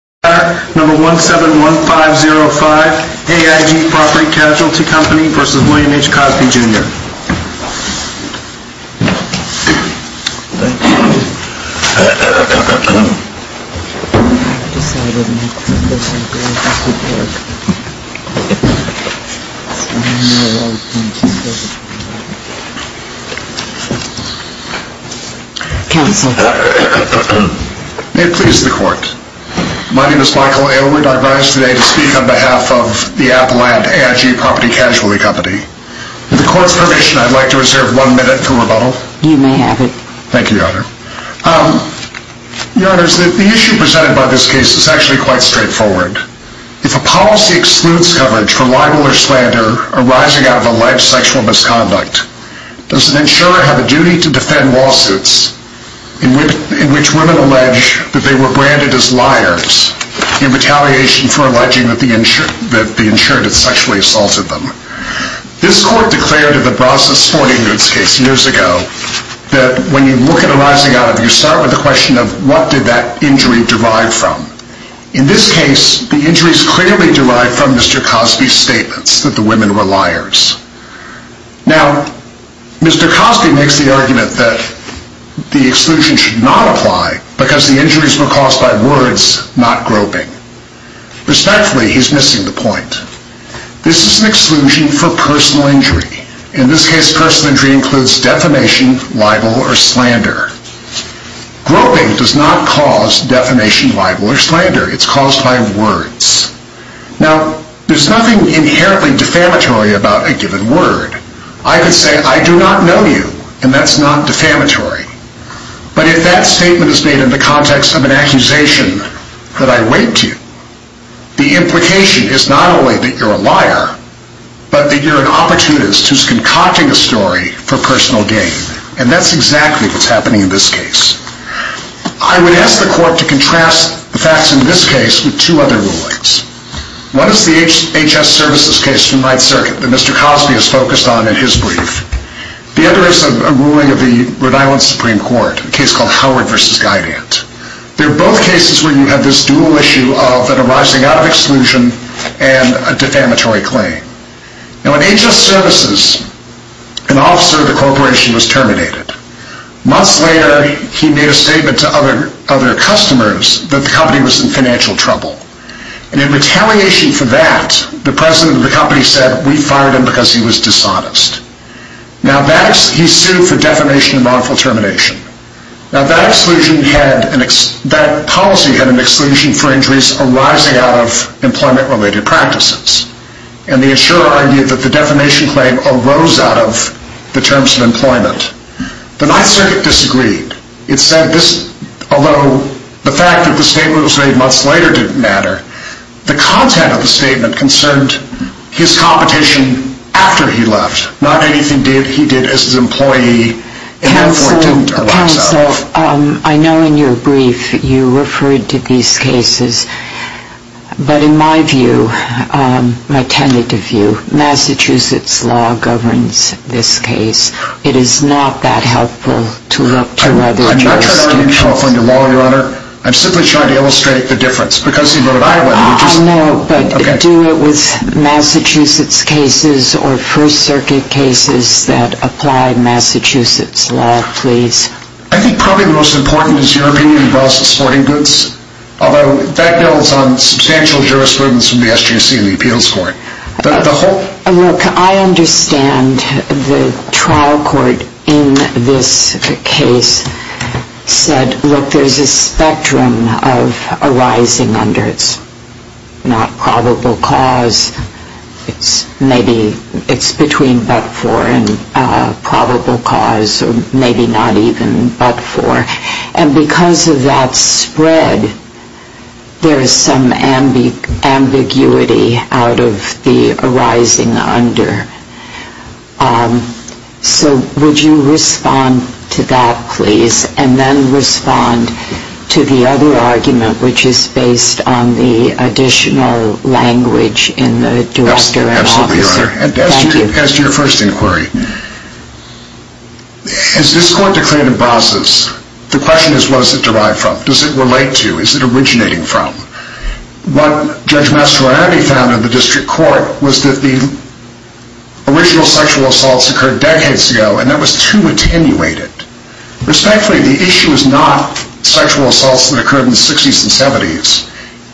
v. William H. Cosby Jr., No. 171505, AIG Property Casualty Co. v. William H. Cosby Jr. May it please the Court, My name is Michael Aylward. I rise today to speak on behalf of the Appalachian AIG Property Casualty Company. With the Court's permission, I'd like to reserve one minute for rebuttal. You may have it. Thank you, Your Honor. Your Honor, the issue presented by this case is actually quite straightforward. If a policy excludes coverage for libel or slander arising out of alleged sexual misconduct, does an insurer have a duty to defend lawsuits in which women allege that they were branded as liars in retaliation for alleging that the insurant had sexually assaulted them? This Court declared in the Brazos-Sporting Woods case years ago that when you look at arising out of, you start with the question of what did that injury derive from? In this case, the injury is clearly derived from Mr. Cosby's statements that the women were liars. Now, Mr. Cosby makes the argument that the exclusion should not apply because the injuries were caused by words, not groping. Respectfully, he's missing the point. This is an exclusion for personal injury. In this case, personal injury includes defamation, libel, or slander. Groping does not cause defamation, libel, or slander. It's caused by words. Now, there's nothing inherently defamatory about a given word. I could say, I do not know you, and that's not defamatory. But if that statement is made in the context of an accusation that I wait to, the implication is not only that you're a liar, but that you're an opportunist who's concocting a story for personal gain. And that's exactly what's happening in this case. I would ask the Court to contrast the facts in this case with two other rulings. One is the HS Services case from Ninth Circuit that Mr. Cosby has focused on in his brief. The other is a ruling of the Rhode Island Supreme Court, a case called Howard v. Guidant. They're both cases where you have this dual issue of an arising out of exclusion and a defamatory claim. Now, in HS Services, an officer of the corporation was terminated. Months later, he made a statement to other customers that the company was in financial trouble. And in retaliation for that, the president of the company said, we fired him because he was dishonest. Now, he sued for defamation and wrongful termination. Now, that policy had an exclusion for injuries arising out of employment-related practices. And the insurer argued that the defamation claim arose out of the terms of employment. The Ninth Circuit disagreed. It said, although the fact that the statement was made months later didn't matter, the content of the statement concerned his competition after he left. Not anything he did as his employee at that point didn't or lacks of. Counsel, I know in your brief, you referred to these cases. But in my view, my tentative view, Massachusetts law governs this case. It is not that helpful to look to other jurisdictions. I'm not trying to read California law, Your Honor. I'm simply trying to illustrate the difference. Because he voted Iowa. I know, but do it with Massachusetts cases or First Circuit cases that apply Massachusetts law, please. I think probably the most important is European and Brazil sporting goods. Although, that builds on substantial jurisprudence from the SGC and the appeals court. Look, I understand the trial court in this case said, look, there's a spectrum of arising under it's not probable cause. It's maybe it's between but for and probable cause or maybe not even but for. And because of that spread, there's some ambiguity out of the arising under. So would you respond to that, please? And then respond to the other argument which is based on the additional language in the director and officer. As to your first inquiry, as this court declared in Brazos, the question is was it derived from? Does it relate to? Is it originating from? What Judge Mastroianni found in the district court was that the original sexual assaults occurred decades ago and that was too attenuated. Respectfully, the issue is not sexual assaults that occurred in the 60s and 70s.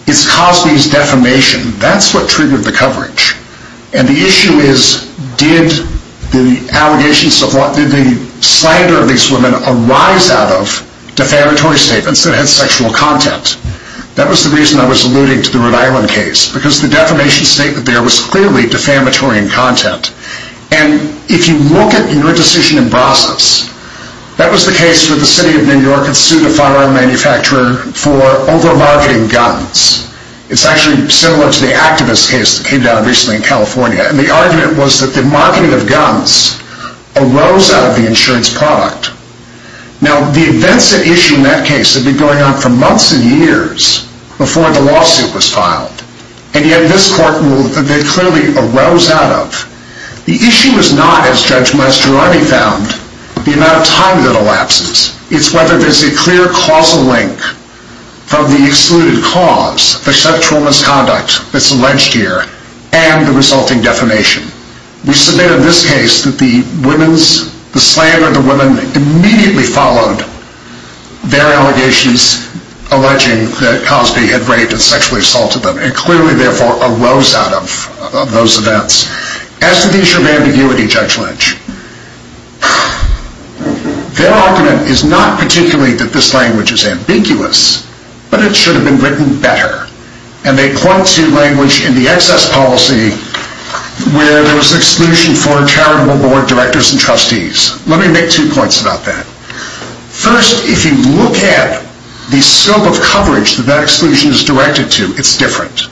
It's Cosby's defamation. That's what triggered the coverage. And the issue is did the allegations of what did the slander of these women arise out of defamatory statements that had sexual content? That was the reason I was alluding to the Rhode Island case because the defamation statement there was clearly defamatory in content. And if you look at your decision in Brazos, that was the case where the city of New York had sued a firearm manufacturer for over-marketing guns. It's actually similar to the activist case that came down recently in California. And the argument was that the marketing of guns arose out of the insurance product. Now, the events at issue in that case had been going on for months and years before the lawsuit was filed. And yet this court ruled that they clearly arose out of. The issue is not, as Judge Mastroianni found, the amount of time that elapses. It's whether there's a clear causal link from the excluded cause, the sexual misconduct that's alleged here, and the resulting defamation. We submit in this case that the slander of the women immediately followed their allegations alleging that Cosby had raped and sexually assaulted them, and clearly, therefore, arose out of those events. As to the issue of ambiguity, Judge Lynch, their argument is not particularly that this language is ambiguous, but it should have been written better. And they point to language in the excess policy where there was exclusion for charitable board directors and trustees. Let me make two points about that. First, if you look at the scope of coverage that that exclusion is directed to, it's different.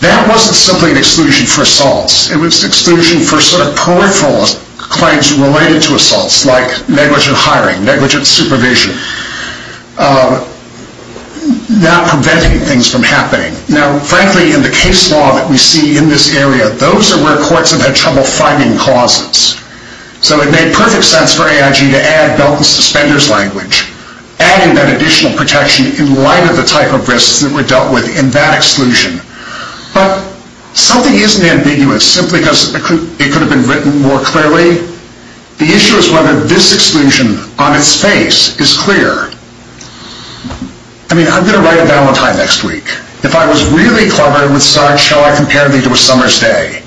That wasn't simply an exclusion for assaults. It was exclusion for sort of peripheral claims related to assaults, like negligent hiring, negligent supervision, not preventing things from happening. Now, frankly, in the case law that we see in this area, those are where courts have had trouble finding causes. So it made perfect sense for AIG to add Belt and Suspenders language, adding that additional protection in light of the type of risks that were dealt with in that exclusion. But something isn't ambiguous simply because it could have been written more clearly. The issue is whether this exclusion on its face is clear. I mean, I'm going to write a valentine next week. If I was really clever and would start, shall I compare thee to a summer's day?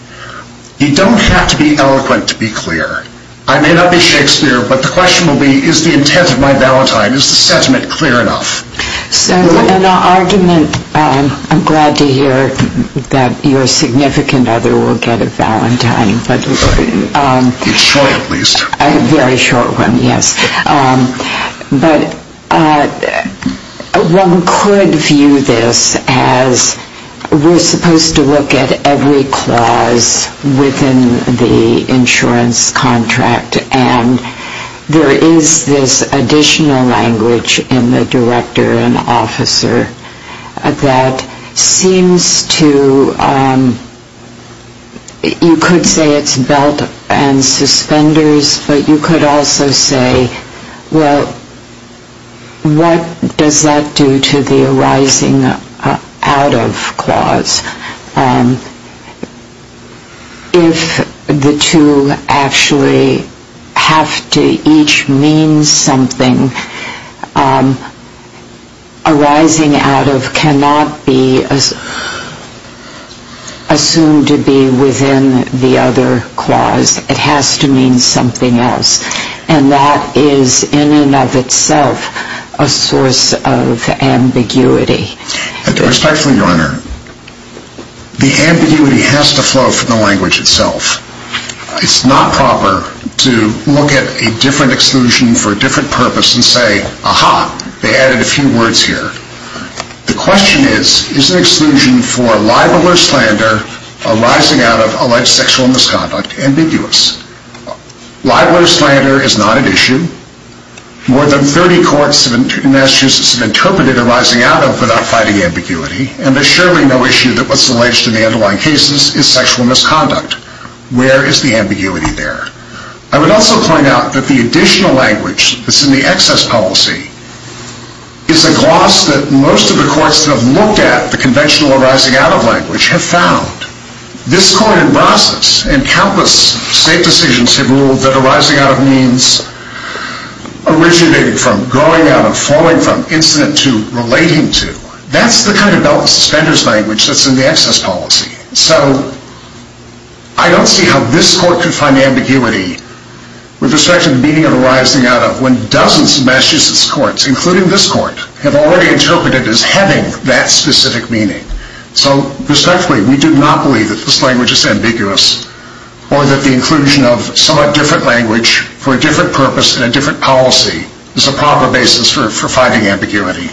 You don't have to be eloquent to be clear. I may not be Shakespeare, but the question will be, is the intent of my valentine, is the sentiment clear enough? So an argument, I'm glad to hear that your significant other will get a valentine. It's short, at least. A very short one, yes. But one could view this as we're supposed to look at every clause within the insurance contract, and there is this additional language in the director and officer that seems to, you could say it's Belt and Suspenders, but you could also say, Well, what does that do to the arising out of clause? If the two actually have to each mean something, arising out of cannot be assumed to be within the other clause. It has to mean something else. And that is in and of itself a source of ambiguity. And respectfully, Your Honor, the ambiguity has to flow from the language itself. It's not proper to look at a different exclusion for a different purpose and say, Aha, they added a few words here. The question is, is an exclusion for libel or slander arising out of alleged sexual misconduct ambiguous? Libel or slander is not an issue. More than 30 courts in Massachusetts have interpreted arising out of without fighting ambiguity, and there's surely no issue that what's alleged in the underlying cases is sexual misconduct. Where is the ambiguity there? I would also point out that the additional language that's in the excess policy is a gloss that most of the courts that have looked at the conventional arising out of language have found. This court in process and countless state decisions have ruled that arising out of means originating from, going out of, falling from, incident to, relating to. That's the kind of belt and suspenders language that's in the excess policy. So I don't see how this court could find ambiguity with respect to the meaning of arising out of when dozens of Massachusetts courts, including this court, have already interpreted as having that specific meaning. So respectfully, we do not believe that this language is ambiguous or that the inclusion of somewhat different language for a different purpose and a different policy is a proper basis for fighting ambiguity.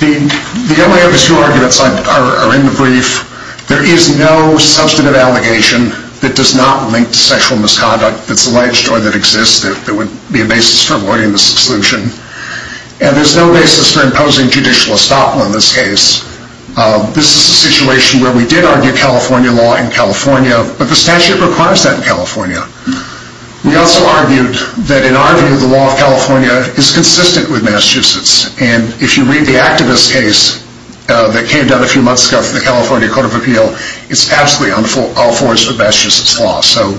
The only other two arguments are in the brief. There is no substantive allegation that does not link to sexual misconduct that's alleged or that exists that would be a basis for avoiding this exclusion. And there's no basis for imposing judicial estoppel in this case. This is a situation where we did argue California law in California, but the statute requires that in California. We also argued that in our view, the law of California is consistent with Massachusetts. And if you read the activist case that came down a few months ago from the California Court of Appeal, it's absolutely all forged with Massachusetts law. So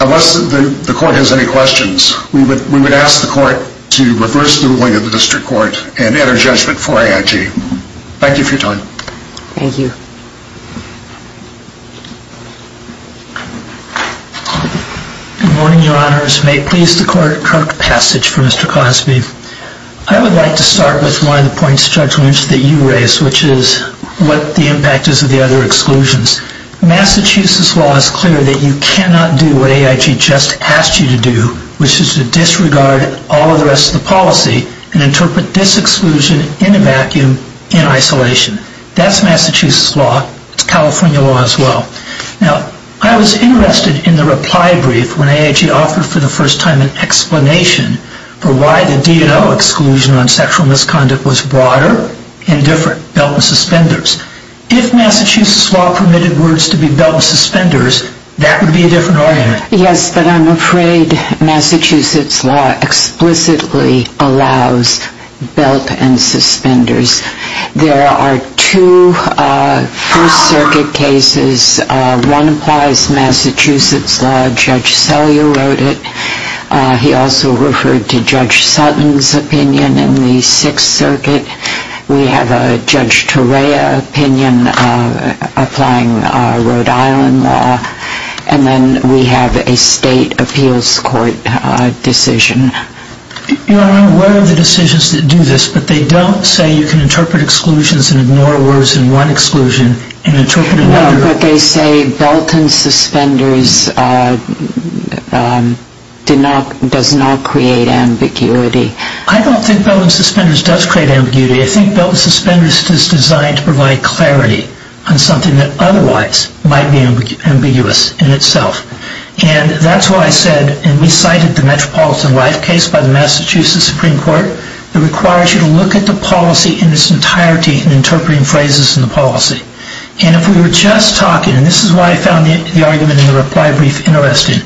unless the court has any questions, we would ask the court to reverse the ruling of the district court and enter judgment for AIG. Thank you for your time. Thank you. Good morning, Your Honors. May it please the court, correct passage for Mr. Cosby. I would like to start with one of the points of judgment that you raised, which is what the impact is of the other exclusions. Massachusetts law is clear that you cannot do what AIG just asked you to do, which is to disregard all of the rest of the policy and interpret this exclusion in a vacuum in isolation. That's Massachusetts law. It's California law as well. Now, I was interested in the reply brief when AIG offered for the first time an explanation for why the DNO exclusion on sexual misconduct was broader and different, which is why Massachusetts law explicitly allows belt and suspenders. If Massachusetts law permitted words to be belt and suspenders, that would be a different argument. Yes, but I'm afraid Massachusetts law explicitly allows belt and suspenders. There are two First Circuit cases. One applies Massachusetts law. Judge Sellier wrote it. He also referred to Judge Sutton's opinion in the Sixth Circuit. We have a Judge Torea opinion applying Rhode Island law. And then we have a State Appeals Court decision. Your Honor, I'm aware of the decisions that do this, but they don't say you can interpret exclusions and ignore words in one exclusion and interpret it in another. No, but they say belt and suspenders does not create ambiguity. I don't think belt and suspenders does create ambiguity. I think belt and suspenders is designed to provide clarity on something that otherwise might be ambiguous in itself. And that's why I said, and we cited the Metropolitan Life case by the Massachusetts Supreme Court that requires you to look at the policy in its entirety in interpreting phrases in the policy. And if we were just talking, and this is why I found the argument in the reply brief interesting,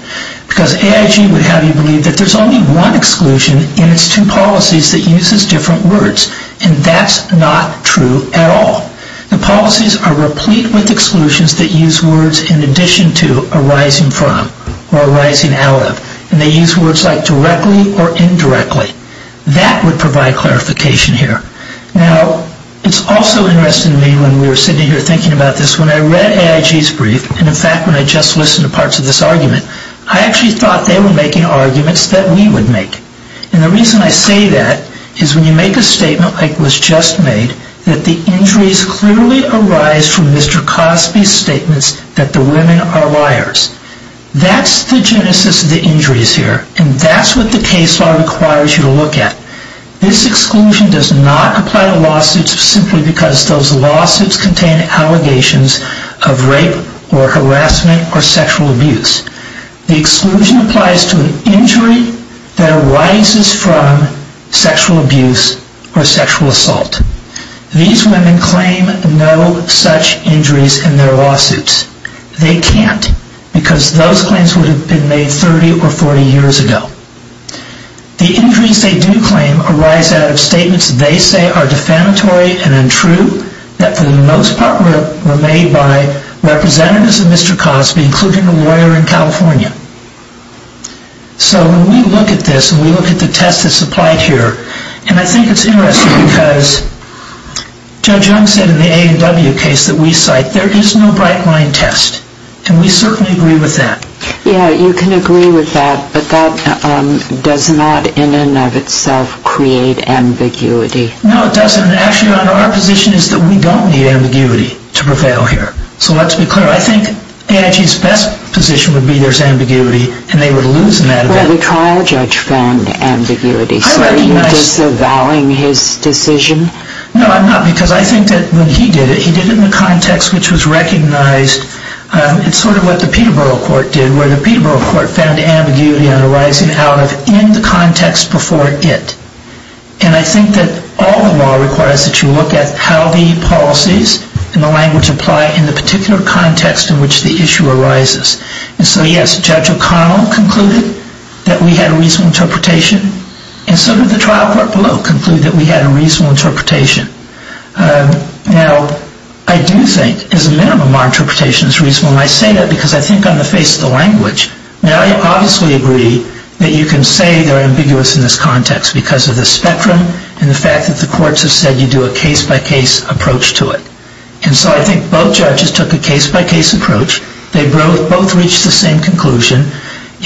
because AIG would have you believe that there's only one exclusion in its two policies that uses different words. And that's not true at all. The policies are replete with exclusions that use words in addition to arising from or arising out of. And they use words like directly or indirectly. That would provide clarification here. Now, it's also interesting to me when we were discussing this in the parts of this argument, I actually thought they were making arguments that we would make. And the reason I say that is when you make a statement like was just made, that the injuries clearly arise from Mr. Cosby's statements that the women are liars. That's the genesis of the injuries here. And that's what the case law requires you to look at. This exclusion does not apply to lawsuits simply because those lawsuits contain allegations of rape or harassment or sexual abuse. The exclusion applies to an injury that arises from sexual abuse or sexual assault. These women claim no such injuries in their lawsuits. They can't, because those claims would have been made 30 or 40 years ago. The injuries they do claim arise out of statements they say are defamatory and untrue, that for the most part were made by representatives of Mr. Cosby, including a lawyer in California. So when we look at this and we look at the test that's applied here, and I think it's interesting because Judge Young said in the A&W case that we cite, there is no bright line test. And we certainly agree with that. Yeah, you can agree with that, but that does not in and of itself create ambiguity. No, it doesn't. Actually, our position is that we don't need ambiguity to prevail here. So let's be clear. I think AIG's best position would be there's ambiguity and they would lose in that event. Well, the trial judge found ambiguity. So are you disavowing his decision? No, I'm not, because I think that when he did it, he did it in a context which was recognized. It's sort of what the Peterborough court did, where the Peterborough court found ambiguity on arising out of in the context before it. And I think that all the law requires that you look at how the policies and the language apply in the particular context in which the issue arises. And so, yes, Judge O'Connell concluded that we had a reasonable interpretation, and so did the trial court below conclude that we had a reasonable interpretation. Now, I do think, as a minimum, our interpretation is reasonable, and I say that because I think on the face of the language. Now, I obviously agree that you can say they're ambiguous in this context because of the spectrum and the fact that the courts have said you do a case-by-case approach to it. And so I think both judges took a case-by-case approach. They both reached the same conclusion.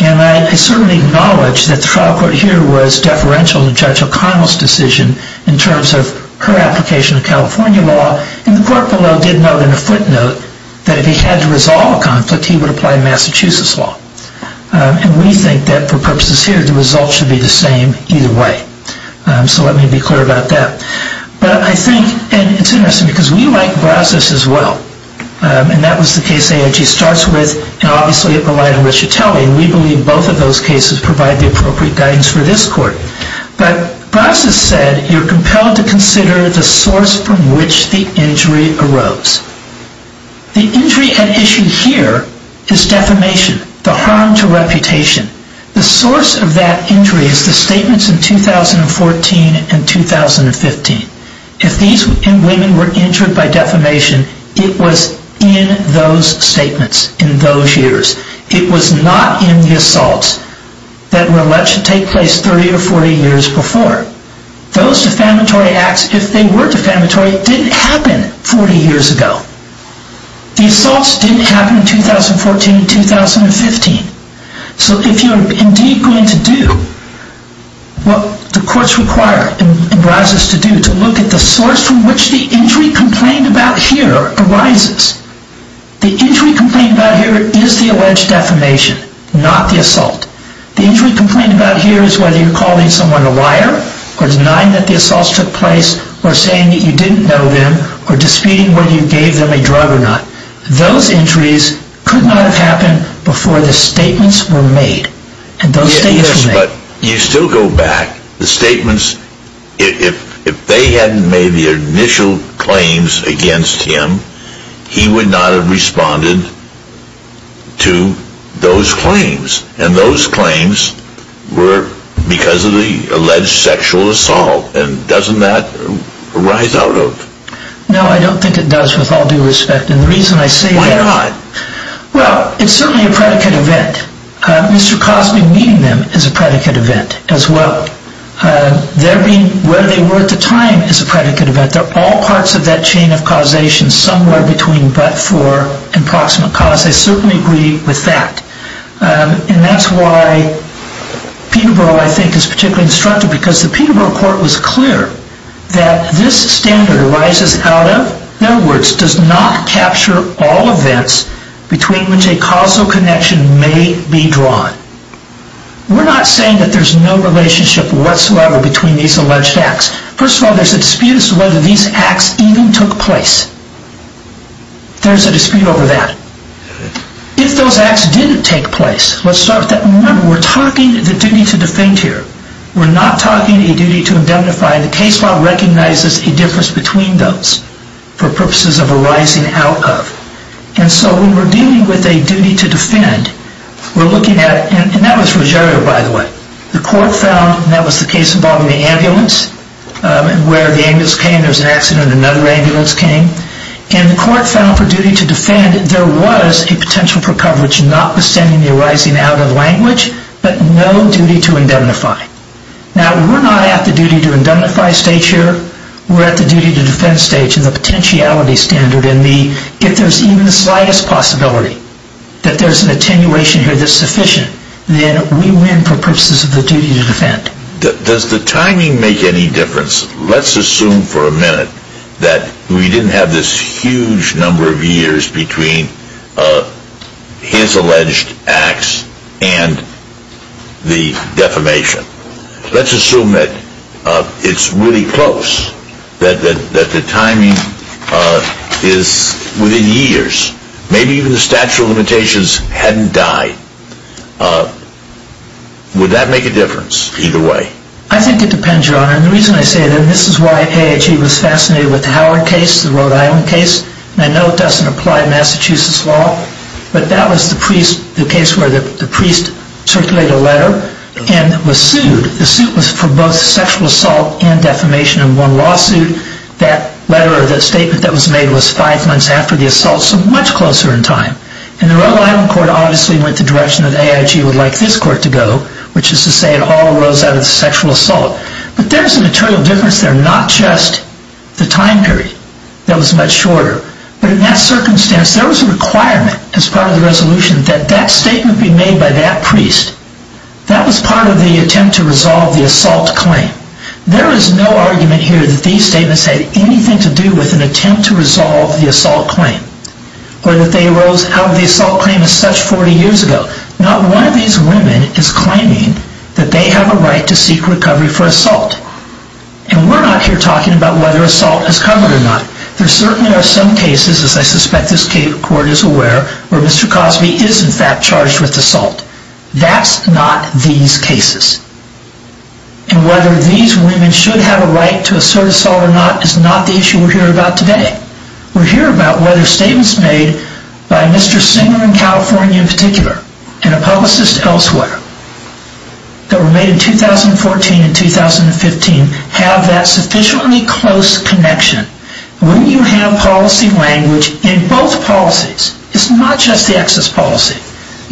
And I certainly acknowledge that the trial court here was deferential to Judge O'Connell's decision in terms of her application of California law. And the court below did note in a footnote that if he had to resolve a conflict, he would apply Massachusetts law. And we think that, for purposes here, the results should be the same either way. So let me be clear about that. But I think, and it's interesting because we like Brazos as well. And that was the case AIG starts with, and obviously it relied on Ricciatelli. And we believe both of those cases provide the appropriate guidance for this court. But Brazos said, you're compelled to consider the source from which the injury arose. The injury at issue here is defamation, the harm to reputation. The source of that injury is the statements in 2014 and 2015. If these women were injured by defamation, it was in those statements, in those years. It was not in the assaults that were alleged to take place 30 or 40 years before. Those defamatory acts, if they were defamatory, didn't happen 40 years ago. The assaults didn't happen in 2014 and 2015. So if you're indeed going to do what the courts require in Brazos to do, to look at the source from which the injury complained about here arises, the injury complained about here is the alleged defamation, not the assault. The injury complained about here is whether you're calling someone a liar or denying that the assaults took place or saying that you didn't know them or disputing whether you gave them a drug or not. Those injuries could not have happened before the statements were made. But you still go back. The statements, if they hadn't made the initial claims against him, he would not have responded to those claims. And those claims were because of the alleged sexual assault. And doesn't that rise out of... No, I don't think it does, with all due respect. And the reason I say that... Why not? Well, it's certainly a predicate event. Mr. Cosby meeting them is a predicate event as well. Their being where they were at the time is a predicate event. They're all parts of that chain of causation, somewhere between but for and proximate cause. I certainly agree with that. And that's why Peterborough, I think, is particularly instructive because the Peterborough court was clear that this standard arises out of, in other words, does not capture all events between which a causal connection may be drawn. We're not saying that there's no relationship whatsoever between these alleged acts. First of all, there's a dispute as to whether these acts even took place. There's a dispute over that. If those acts did take place, let's start with that. Remember, we're talking the dignity to defend here. We're not talking a duty to indemnify. The case law recognizes a difference between those for purposes of arising out of. And so when we're dealing with a duty to defend, we're looking at... And that was Ruggiero, by the way. The court found, and that was the case involving the ambulance, where the ambulance came, there was an accident, another ambulance came. And the court found for duty to defend, there was a potential for coverage not withstanding the arising out of language, but no duty to indemnify. Now, we're not at the duty to indemnify stage here. We're at the duty to defend stage and the potentiality standard and if there's even the slightest possibility that there's an attenuation here that's sufficient, then we win for purposes of the duty to defend. Does the timing make any difference? Let's assume for a minute that we didn't have this huge number of years between his alleged acts and the defamation. Let's assume that it's really close, that the timing is within years. Maybe even the statute of limitations hadn't died. Would that make a difference either way? I think it depends, Your Honor. And the reason I say that, and this is why AHE was fascinated with the Howard case, the Rhode Island case, and I know it doesn't apply to Massachusetts law, but that was the case where the priest circulated a letter and was sued. The suit was for both sexual assault and defamation in one lawsuit. That letter or that statement that was made was five months after the assault, so much closer in time. And the Rhode Island court obviously went the direction that AIG would like this court to go, which is to say it all arose out of sexual assault. But there's a material difference there, not just the time period. That was much shorter. But in that circumstance, there was a requirement as part of the resolution that that statement be made by that priest. That was part of the attempt to resolve the assault claim. There is no argument here that these statements had anything to do with an attempt to resolve the assault claim, or that they arose out of the assault claim as such 40 years ago. But not one of these women is claiming that they have a right to seek recovery for assault. And we're not here talking about whether assault is covered or not. There certainly are some cases, as I suspect this court is aware, where Mr. Cosby is in fact charged with assault. That's not these cases. And whether these women should have a right to assert assault or not is not the issue we're here about today. We're here about whether statements made by Mr. Singer in California in particular and a publicist elsewhere that were made in 2014 and 2015 have that sufficiently close connection. When you have policy language in both policies, it's not just the excess policy.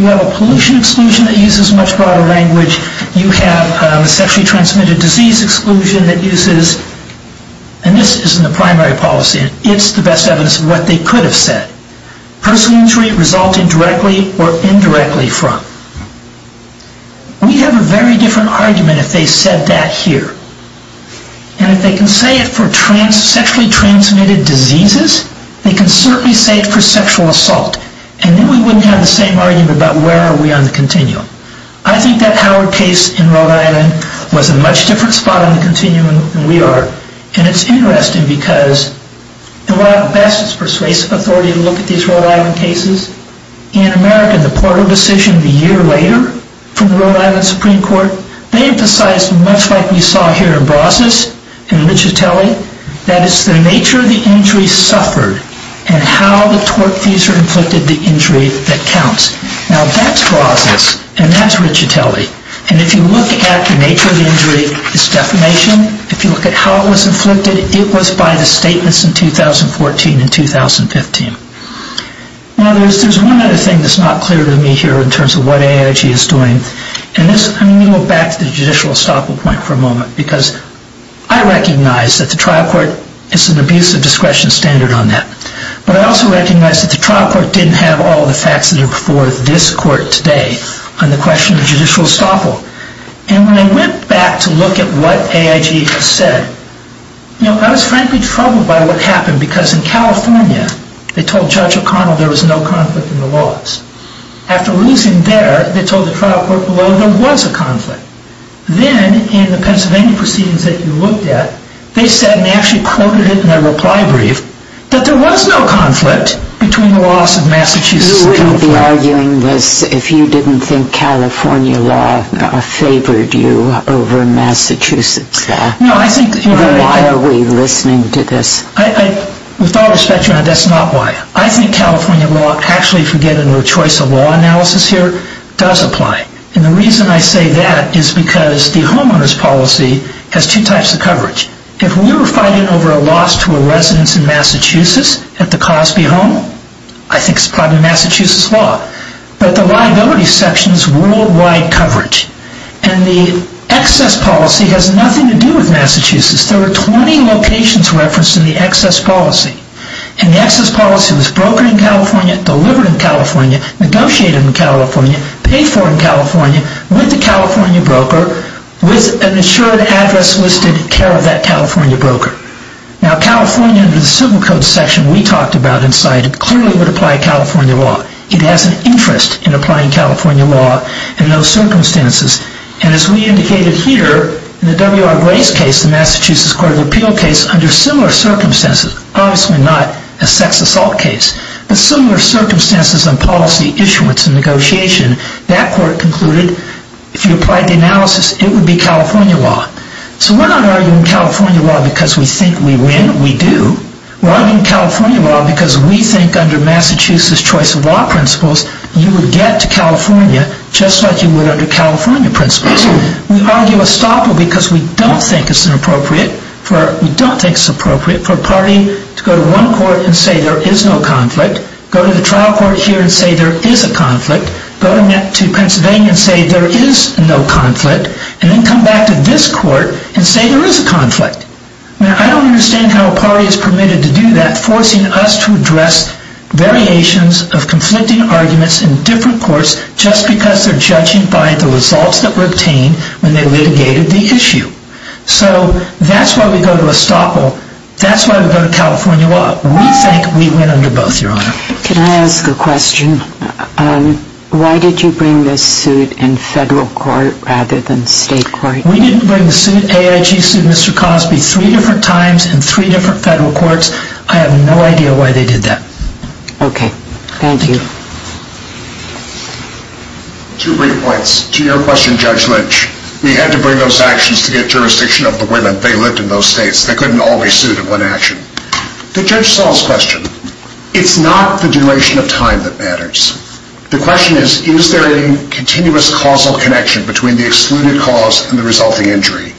You have a pollution exclusion that uses much broader language. You have a sexually transmitted disease exclusion that uses, and this isn't a primary policy. It's the best evidence of what they could have said. Personal injury resulting directly or indirectly from. We have a very different argument if they said that here. And if they can say it for sexually transmitted diseases, they can certainly say it for sexual assault. And then we wouldn't have the same argument about where are we on the continuum. I think that Howard case in Rhode Island was a much different spot on the continuum than we are. And it's interesting because the best persuasive authority to look at these Rhode Island cases, in America, the Porter decision a year later from the Rhode Island Supreme Court, they emphasized much like we saw here in Brazos and Lichitelli, that it's the nature of the injury suffered and how the torque fuser inflicted the injury that counts. Now that's Brazos and that's Lichitelli. And if you look at the nature of the injury, it's defamation. If you look at how it was inflicted, it was by the statements in 2014 and 2015. Now there's one other thing that's not clear to me here in terms of what AIG is doing. And this, I'm going to go back to the judicial estoppel point for a moment because I recognize that the trial court is an abuse of discretion standard on that. But I also recognize that the trial court didn't have all the facts that are before this court today on the question of judicial estoppel. And when I went back to look at what AIG has said, I was frankly troubled by what happened because in California, they told Judge O'Connell there was no conflict in the laws. After losing there, they told the trial court below there was a conflict. Then in the Pennsylvania proceedings that you looked at, they said, and they actually quoted it in their reply brief, that there was no conflict between the laws of Massachusetts. You wouldn't be arguing this if you didn't think California law favored you over Massachusetts law. No, I think that you're right. Then why are we listening to this? With all respect, that's not why. I think California law, actually forgetting the choice of law analysis here, does apply. And the reason I say that is because the homeowners policy has two types of coverage. If we were fighting over a loss to a residence in Massachusetts at the Cosby home, I think it's probably Massachusetts law. But the liability section is worldwide coverage. And the excess policy has nothing to do with Massachusetts. There are 20 locations referenced in the excess policy. And the excess policy was brokered in California, with the California broker, with an insured address listed in care of that California broker. Now, California, under the civil code section we talked about in sight, clearly would apply California law. It has an interest in applying California law in those circumstances. And as we indicated here, in the W.R. Gray's case, the Massachusetts Court of Appeal case, under similar circumstances, obviously not a sex assault case, but similar circumstances on policy issuance and negotiation, that court concluded, if you applied the analysis, it would be California law. So we're not arguing California law because we think we win. We do. We're arguing California law because we think under Massachusetts choice of law principles, you would get to California just like you would under California principles. We argue estoppel because we don't think it's appropriate for a party to go to one court and say there is no conflict, go to the trial court here and say there is a conflict, go to Pennsylvania and say there is no conflict, and then come back to this court and say there is a conflict. Now, I don't understand how a party is permitted to do that, forcing us to address variations of conflicting arguments in different courts just because they're judging by the results that were obtained when they litigated the issue. So that's why we go to estoppel. That's why we go to California law. We think we win under both, Your Honor. Can I ask a question? Why did you bring this suit in federal court rather than state court? We didn't bring the AIG suit, Mr. Cosby, three different times in three different federal courts. I have no idea why they did that. Okay. Thank you. Two brief points. To your question, Judge Lynch, we had to bring those actions to get jurisdiction of the women. They lived in those states. They couldn't always suit in one action. To Judge Saul's question, it's not the duration of time that matters. The question is, is there a continuous causal connection between the excluded cause and the resulting injury?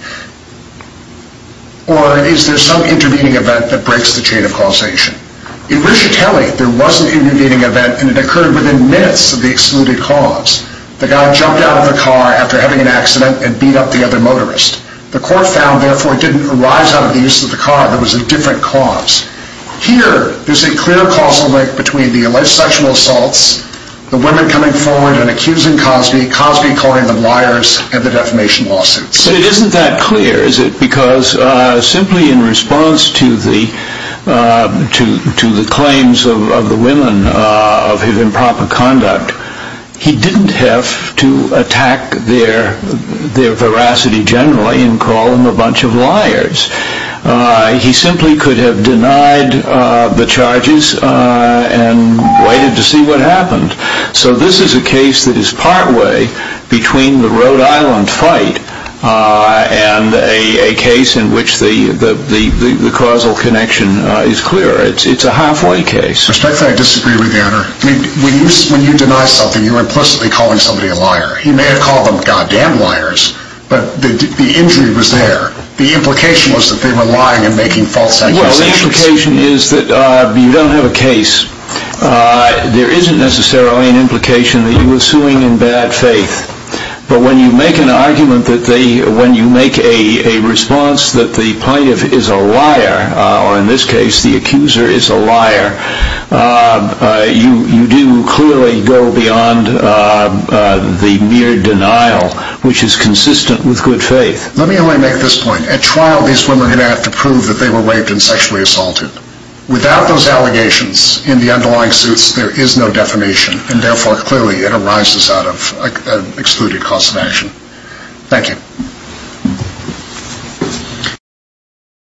Or is there some intervening event that breaks the chain of causation? In Briciatelli, there was an intervening event, and it occurred within minutes of the excluded cause. The guy jumped out of the car after having an accident and beat up the other motorist. The court found, therefore, it didn't arise out of the use of the car. It was a different cause. Here, there's a clear causal link between the alleged sexual assaults, the women coming forward and accusing Cosby, Cosby calling them liars, and the defamation lawsuits. But it isn't that clear, is it? Because simply in response to the claims of the women of his improper conduct, he didn't have to attack their veracity generally and call them a bunch of liars. He simply could have denied the charges and waited to see what happened. So this is a case that is partway between the Rhode Island fight and a case in which the causal connection is clear. It's a halfway case. Respectfully, I disagree with you, Your Honor. When you deny something, you're implicitly calling somebody a liar. You may have called them goddamn liars, but the injury was there. The implication was that they were lying and making false accusations. Well, the implication is that you don't have a case. There isn't necessarily an implication that you were suing in bad faith. But when you make an argument, when you make a response that the plaintiff is a liar, or in this case, the accuser is a liar, you do clearly go beyond the mere denial, which is consistent with good faith. Let me only make this point. At trial, these women are going to have to prove that they were raped and sexually assaulted. Without those allegations in the underlying suits, there is no defamation, and therefore clearly it arises out of an excluded cause of action. Thank you.